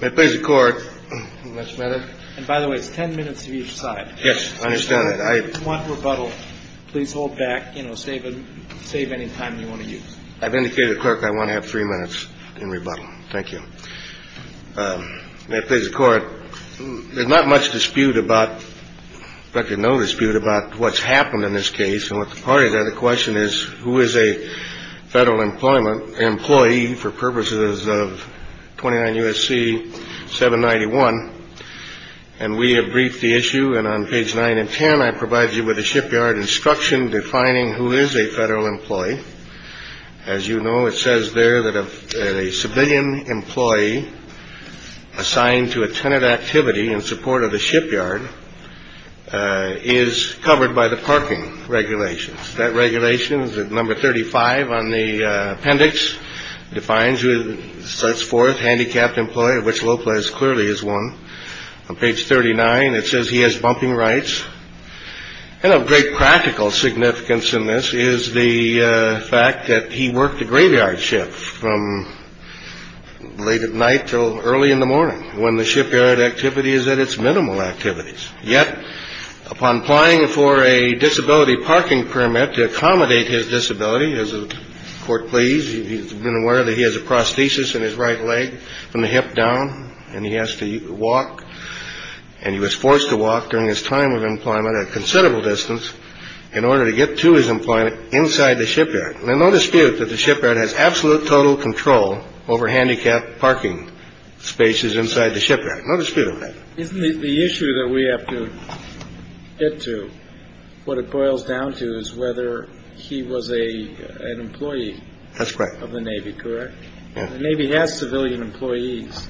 May it please the Court. And by the way, it's 10 minutes of each side. Yes, I understand that. If you want rebuttal, please hold back, you know, save any time you want to use. I've indicated to the clerk I want to have three minutes in rebuttal. Thank you. May it please the Court. There's not much dispute about, in fact, no dispute about what's happened in this case and what the parties are. The question is, who is a federal employment employee for purposes of 29 U.S.C. 791? And we have briefed the issue. And on page nine and 10, I provide you with a shipyard instruction defining who is a federal employee. As you know, it says there that a civilian employee assigned to a tenant activity in support of the shipyard is covered by the parking regulations. That regulation is at number 35 on the appendix. It defines who sets forth handicapped employee, of which Lopez clearly is one. On page 39, it says he has bumping rights. And of great practical significance in this is the fact that he worked a graveyard ship from late at night till early in the morning, when the shipyard activity is at its minimal activities. Yet, upon applying for a disability parking permit to accommodate his disability, as the Court please, he's been aware that he has a prosthesis in his right leg from the hip down, and he has to walk. And he was forced to walk during his time of employment a considerable distance in order to get to his employment inside the shipyard. There's no dispute that the shipyard has absolute total control over handicapped parking spaces inside the shipyard. No dispute of that. Isn't it the issue that we have to get to? What it boils down to is whether he was a an employee. That's correct. Of the Navy. Correct. The Navy has civilian employees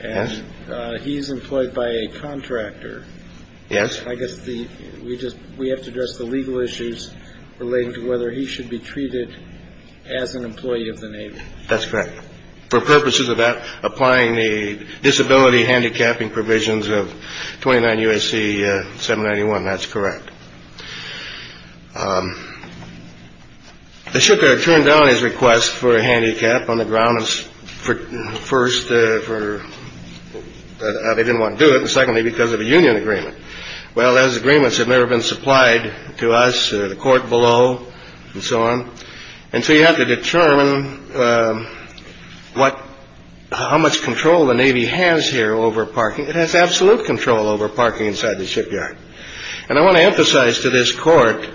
and he's employed by a contractor. Yes. I guess the we just we have to address the legal issues relating to whether he should be treated as an employee of the Navy. That's correct. For purposes of applying the disability handicapping provisions of 29 U.S.C. 791. That's correct. The ship turned down his request for a handicap on the grounds for first for they didn't want to do it. And secondly, because of a union agreement. Well, as agreements have never been supplied to us, the court below and so on. And so you have to determine what how much control the Navy has here over parking. It has absolute control over parking inside the shipyard. And I want to emphasize to this court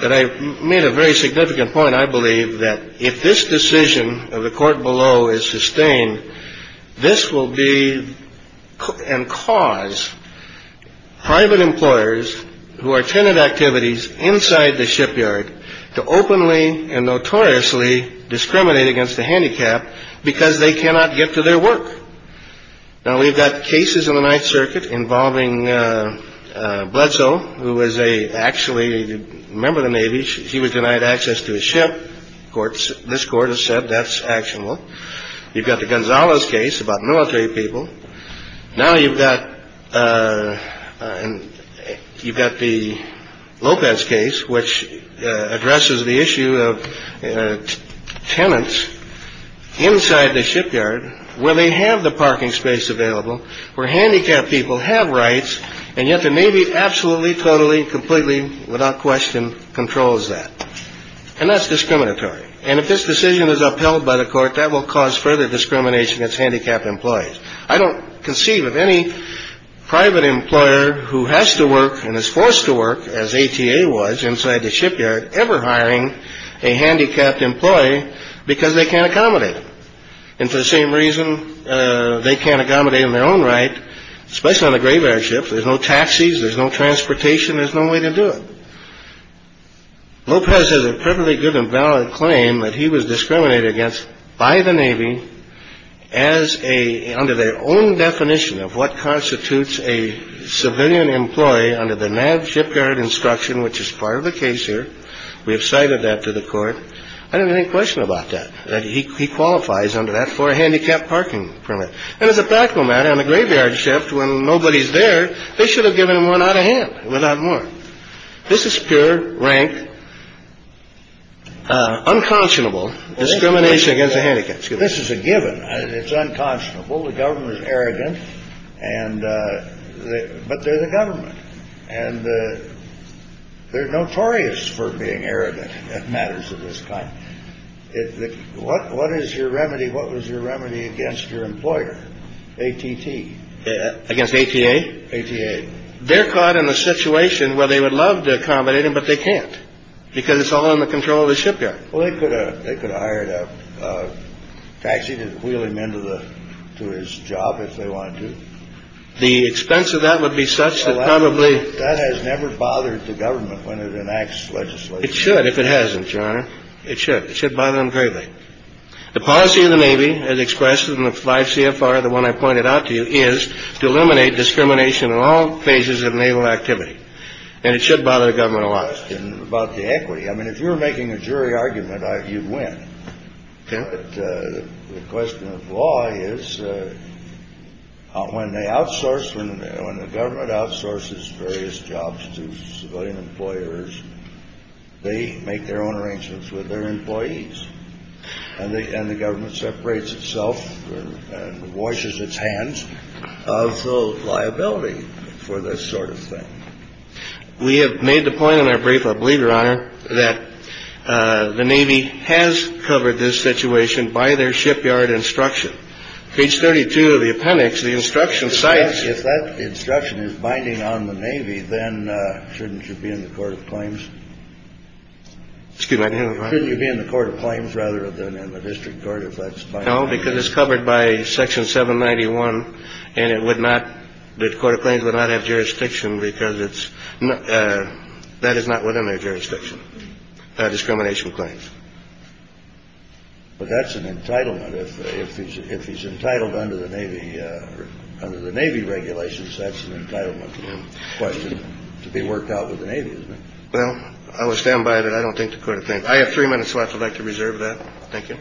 that I made a very significant point. I believe that if this decision of the court below is sustained, this will be and cause private employers who are tenant activities inside the shipyard to openly and notoriously discriminate against the handicap because they cannot get to their work. Now, we've got cases in the Ninth Circuit involving Bledsoe, who was a actually a member of the Navy. She was denied access to a ship. Courts. This court has said that's actionable. You've got the Gonzalez case about military people. Now you've got and you've got the Lopez case, which addresses the issue of tenants inside the shipyard where they have the parking space available, where handicapped people have rights. And yet the Navy absolutely, totally, completely, without question, controls that. And that's discriminatory. And if this decision is upheld by the court, that will cause further discrimination against handicapped employees. I don't conceive of any private employer who has to work and is forced to work as A.T.A. was inside the shipyard ever hiring a handicapped employee because they can't accommodate. And for the same reason, they can't accommodate in their own right, especially on the graveyard ship. There's no taxis. There's no transportation. There's no way to do it. Lopez has a perfectly good and valid claim that he was discriminated against by the Navy as a under their own definition of what constitutes a civilian employee under the NAV shipyard instruction, which is part of the case here. We have cited that to the court. I don't have any question about that, that he qualifies under that for a handicapped parking permit. And as a practical matter, on the graveyard shift, when nobody's there, they should have given him one out of hand, without more. This is pure rank, unconscionable discrimination against the handicapped. This is a given. It's unconscionable. The government is arrogant. And but they're the government. And they're notorious for being arrogant at matters of this kind. What is your remedy? What was your remedy against your employer, ATT? Against ATA? ATA. They're caught in a situation where they would love to accommodate him, but they can't because it's all in the control of the shipyard. Well, they could have hired a taxi to wheel him into his job if they wanted to. The expense of that would be such that probably. That has never bothered the government when it enacts legislation. It should, if it hasn't, Your Honor. It should. It should bother them greatly. The policy of the Navy, as expressed in the 5 CFR, the one I pointed out to you, is to eliminate discrimination in all phases of naval activity. And it should bother the government a lot. And about the equity, I mean, if you were making a jury argument, you'd win. The question of law is when they outsource, when the government outsources various jobs to civilian employers, they make their own arrangements with their employees and the government separates itself and washes its hands of liability for this sort of thing. We have made the point in our brief, I believe, Your Honor, that the Navy has covered this situation by their shipyard instruction. Page 32 of the appendix, the instruction cites. If that instruction is binding on the Navy, then shouldn't you be in the court of claims? Excuse me? Shouldn't you be in the court of claims rather than in the district court if that's binding? No, because it's covered by Section 791. And it would not. The court of claims would not have jurisdiction because it's not that is not within their jurisdiction. Discrimination claims. But that's an entitlement. If he's if he's entitled under the Navy or under the Navy regulations, that's an entitlement question to be worked out with the Navy. Well, I will stand by it. I don't think the court of things I have three minutes left. I'd like to reserve that. Thank you.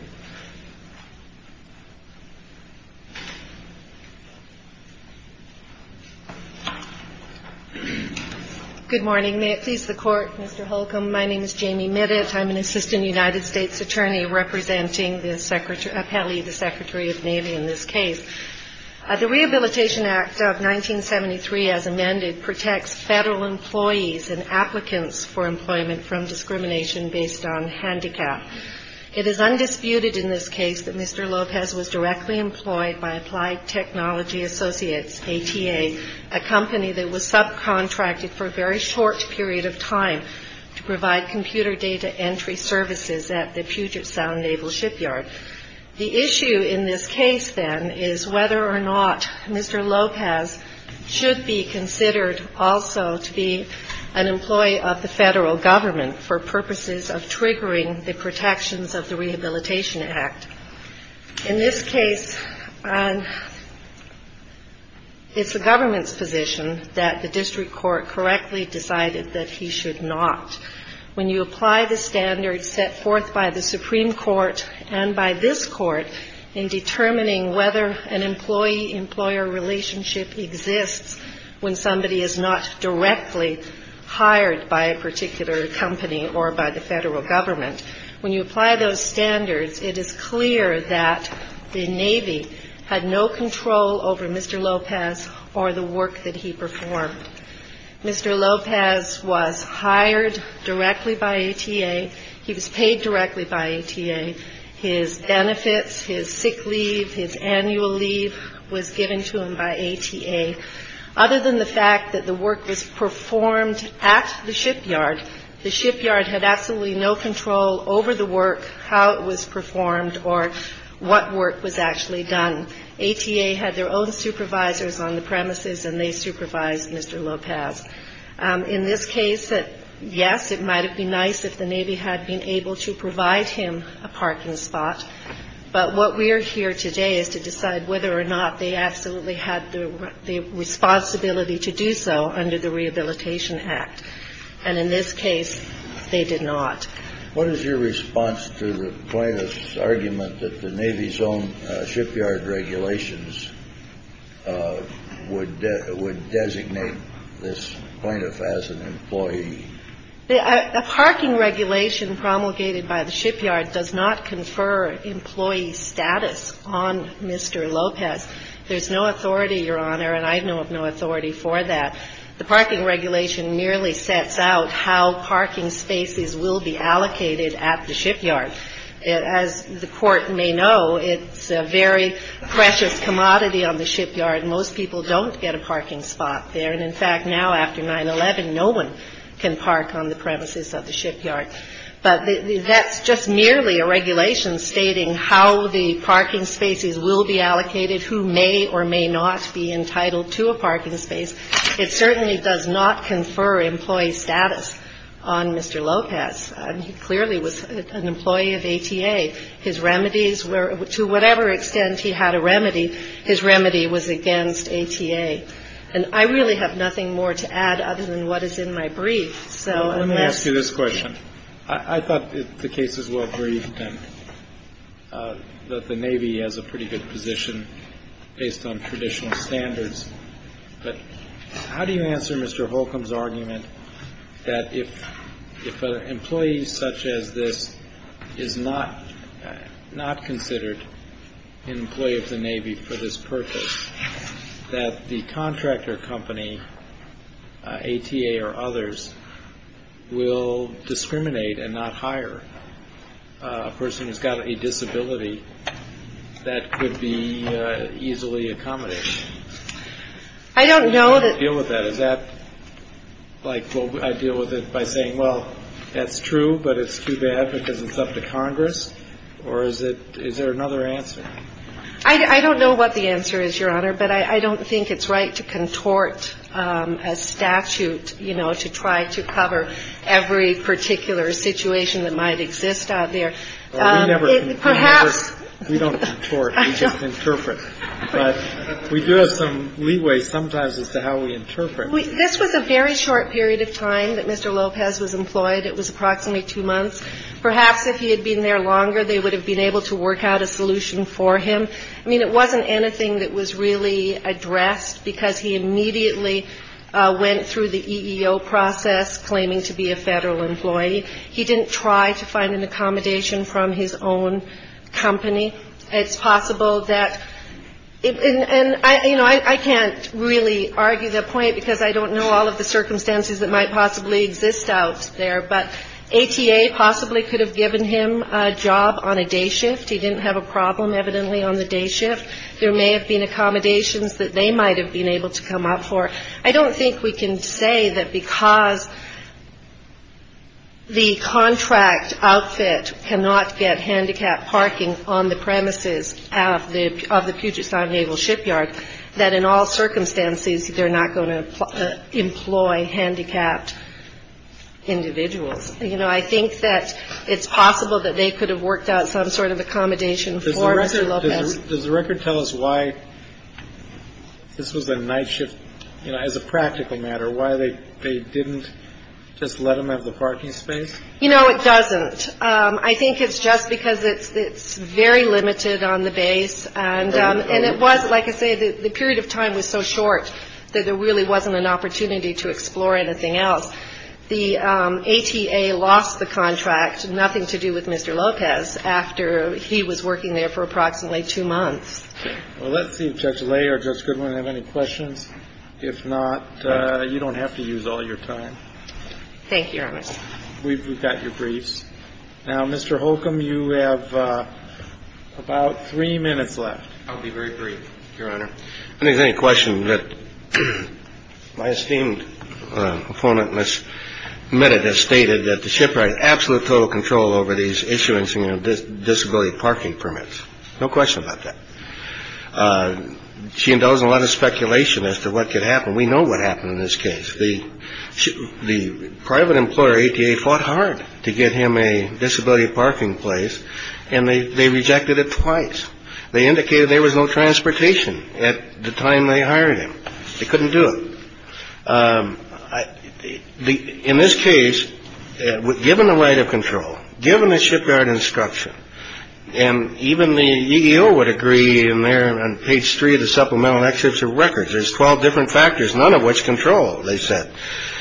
Good morning. May it please the court. Mr. Holcomb. My name is Jamie. I'm an assistant United States attorney representing the secretary of the Secretary of Navy in this case. The Rehabilitation Act of 1973, as amended, protects federal employees and applicants for employment from discrimination based on handicap. It is undisputed in this case that Mr. Lopez was directly employed by Applied Technology Associates, A.T.A., a company that was subcontracted for a very short period of time to provide computer data entry services at the Puget Sound Naval Shipyard. The issue in this case, then, is whether or not Mr. Lopez should be considered also to be an employee of the federal government for purposes of triggering the protections of the Rehabilitation Act. In this case, it's the government's position that the district court correctly decided that he should not. When you apply the standards set forth by the Supreme Court and by this court in determining whether an employee-employer relationship exists when somebody is not directly hired by a particular company or by the federal government, when you apply those standards, it is clear that the Navy had no control over Mr. Lopez or the work that he performed. Mr. Lopez was hired directly by A.T.A. He was paid directly by A.T.A. His benefits, his sick leave, his annual leave was given to him by A.T.A. Other than the fact that the work was performed at the shipyard, the shipyard had absolutely no control over the work, how it was performed, or what work was actually done. A.T.A. had their own supervisors on the premises, and they supervised Mr. Lopez. In this case, yes, it might have been nice if the Navy had been able to provide him a parking spot. But what we are here today is to decide whether or not they absolutely had the responsibility to do so under the Rehabilitation Act. And in this case, they did not. What is your response to the plaintiff's argument that the Navy's own shipyard regulations would designate this plaintiff as an employee? The parking regulation promulgated by the shipyard does not confer employee status on Mr. Lopez. There's no authority, Your Honor, and I know of no authority for that. The parking regulation merely sets out how parking spaces will be allocated at the shipyard. As the Court may know, it's a very precious commodity on the shipyard. Most people don't get a parking spot there. And, in fact, now after 9-11, no one can park on the premises of the shipyard. But that's just merely a regulation stating how the parking spaces will be allocated, who may or may not be entitled to a parking space. It certainly does not confer employee status on Mr. Lopez. He clearly was an employee of ATA. His remedies were to whatever extent he had a remedy, his remedy was against ATA. And I really have nothing more to add other than what is in my brief. So unless ---- Let me ask you this question. I thought the case was well-briefed and that the Navy has a pretty good position based on traditional standards. But how do you answer Mr. Holcomb's argument that if an employee such as this is not considered an employee of the Navy for this purpose, that the contractor company, ATA or others, will discriminate and not hire a person who's got a disability that could be easily accommodated? I don't know that ---- How do you deal with that? Is that like I deal with it by saying, well, that's true, but it's too bad because it's up to Congress? Or is there another answer? I don't know what the answer is, Your Honor, but I don't think it's right to contort a statute, you know, to try to cover every particular situation that might exist out there. Perhaps ---- We don't contort. We just interpret. But we do have some leeway sometimes as to how we interpret. This was a very short period of time that Mr. Lopez was employed. It was approximately two months. Perhaps if he had been there longer, they would have been able to work out a solution for him. I mean, it wasn't anything that was really addressed because he immediately went through the EEO process claiming to be a federal employee. He didn't try to find an accommodation from his own company. It's possible that ---- and, you know, I can't really argue the point because I don't know all of the circumstances that might possibly exist out there. But ATA possibly could have given him a job on a day shift. He didn't have a problem, evidently, on the day shift. There may have been accommodations that they might have been able to come up for. I don't think we can say that because the contract outfit cannot get handicapped parking on the premises of the Puget Sound Naval Shipyard, that in all circumstances they're not going to employ handicapped individuals. You know, I think that it's possible that they could have worked out some sort of accommodation for Mr. Lopez. Does the record tell us why this was a night shift? You know, as a practical matter, why they didn't just let him have the parking space? You know, it doesn't. I think it's just because it's very limited on the base. And it was, like I say, the period of time was so short that there really wasn't an opportunity to explore anything else. The ATA lost the contract, nothing to do with Mr. Lopez, after he was working there for approximately two months. Well, let's see if Judge Lay or Judge Goodwin have any questions. If not, you don't have to use all your time. Thank you, Your Honor. We've got your briefs. Now, Mr. Holcomb, you have about three minutes left. I'll be very brief, Your Honor. I don't think there's any question that my esteemed opponent, Ms. Mehta, just stated that the shipyard had absolute total control over these issuance and disability parking permits. No question about that. She indulged in a lot of speculation as to what could happen. We know what happened in this case. The private employer, ATA, fought hard to get him a disability parking place, and they rejected it twice. They indicated there was no transportation at the time they hired him. They couldn't do it. In this case, given the right of control, given the shipyard instruction, and even the EEO would agree in there on page three of the supplemental excerpts of records, there's 12 different factors, none of which control, they said.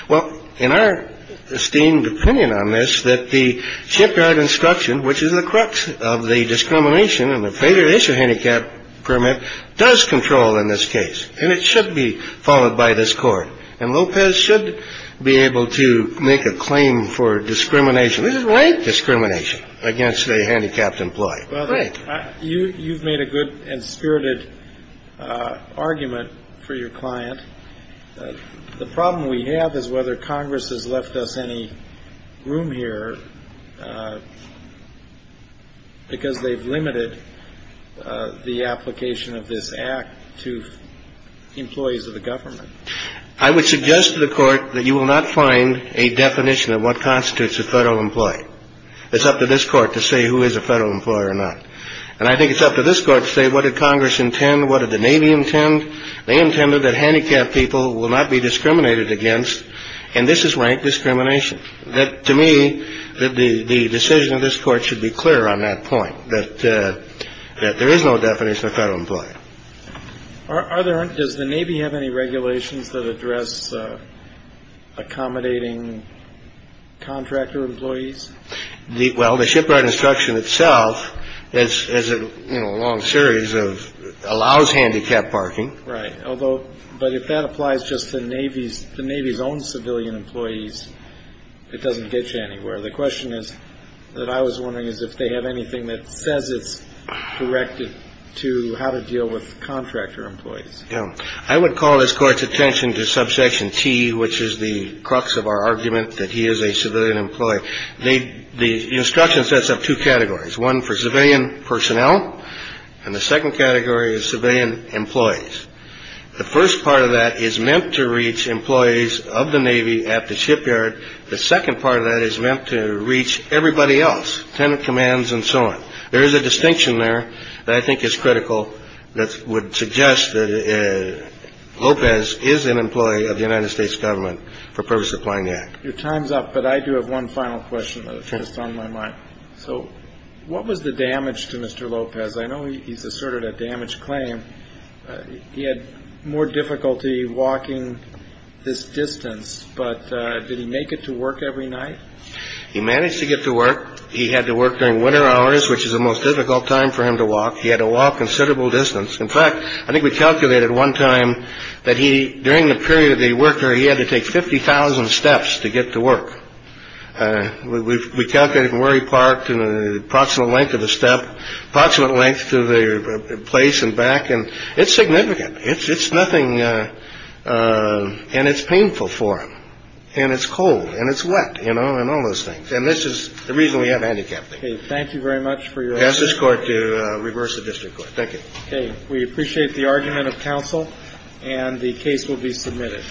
Well, in our esteemed opinion on this, that the shipyard instruction, which is the crux of the discrimination in the faded issue handicap permit, does control in this case. And it should be followed by this Court. And Lopez should be able to make a claim for discrimination. This is rank discrimination against a handicapped employee. You've made a good and spirited argument for your client. The problem we have is whether Congress has left us any room here because they've limited the application of this act to employees of the government. I would suggest to the court that you will not find a definition of what constitutes a federal employee. It's up to this Court to say who is a federal employer or not. And I think it's up to this Court to say what did Congress intend, what did the Navy intend. They intended that handicapped people will not be discriminated against. And this is rank discrimination. To me, the decision of this Court should be clear on that point, that there is no definition of federal employee. Does the Navy have any regulations that address accommodating contractor employees? Well, the shipyard instruction itself is a long series of allows handicapped parking. Right. Although, but if that applies just to the Navy's own civilian employees, it doesn't get you anywhere. The question is that I was wondering is if they have anything that says it's directed to how to deal with contractor employees. I would call this Court's attention to subsection T, which is the crux of our argument that he is a civilian employee. The instruction sets up two categories, one for civilian personnel and the second category is civilian employees. The first part of that is meant to reach employees of the Navy at the shipyard. The second part of that is meant to reach everybody else, tenant commands and so on. There is a distinction there that I think is critical that would suggest that Lopez is an employee of the United States government for purpose of applying the act. Your time's up, but I do have one final question that's just on my mind. So what was the damage to Mr. Lopez? I know he's asserted a damage claim. He had more difficulty walking this distance, but did he make it to work every night? He managed to get to work. He had to work during winter hours, which is the most difficult time for him to walk. He had to walk considerable distance. In fact, I think we calculated one time that he during the period of the worker, he had to take 50,000 steps to get to work. We calculated from where he parked and the approximate length of the step, approximate length to the place and back. And it's significant. It's nothing. And it's painful for him. And it's cold and it's wet, you know, and all those things. And this is the reason we have handicapped people. Thank you very much for your answer. Ask this court to reverse the district court. Thank you. Okay. We appreciate the argument of counsel and the case will be submitted.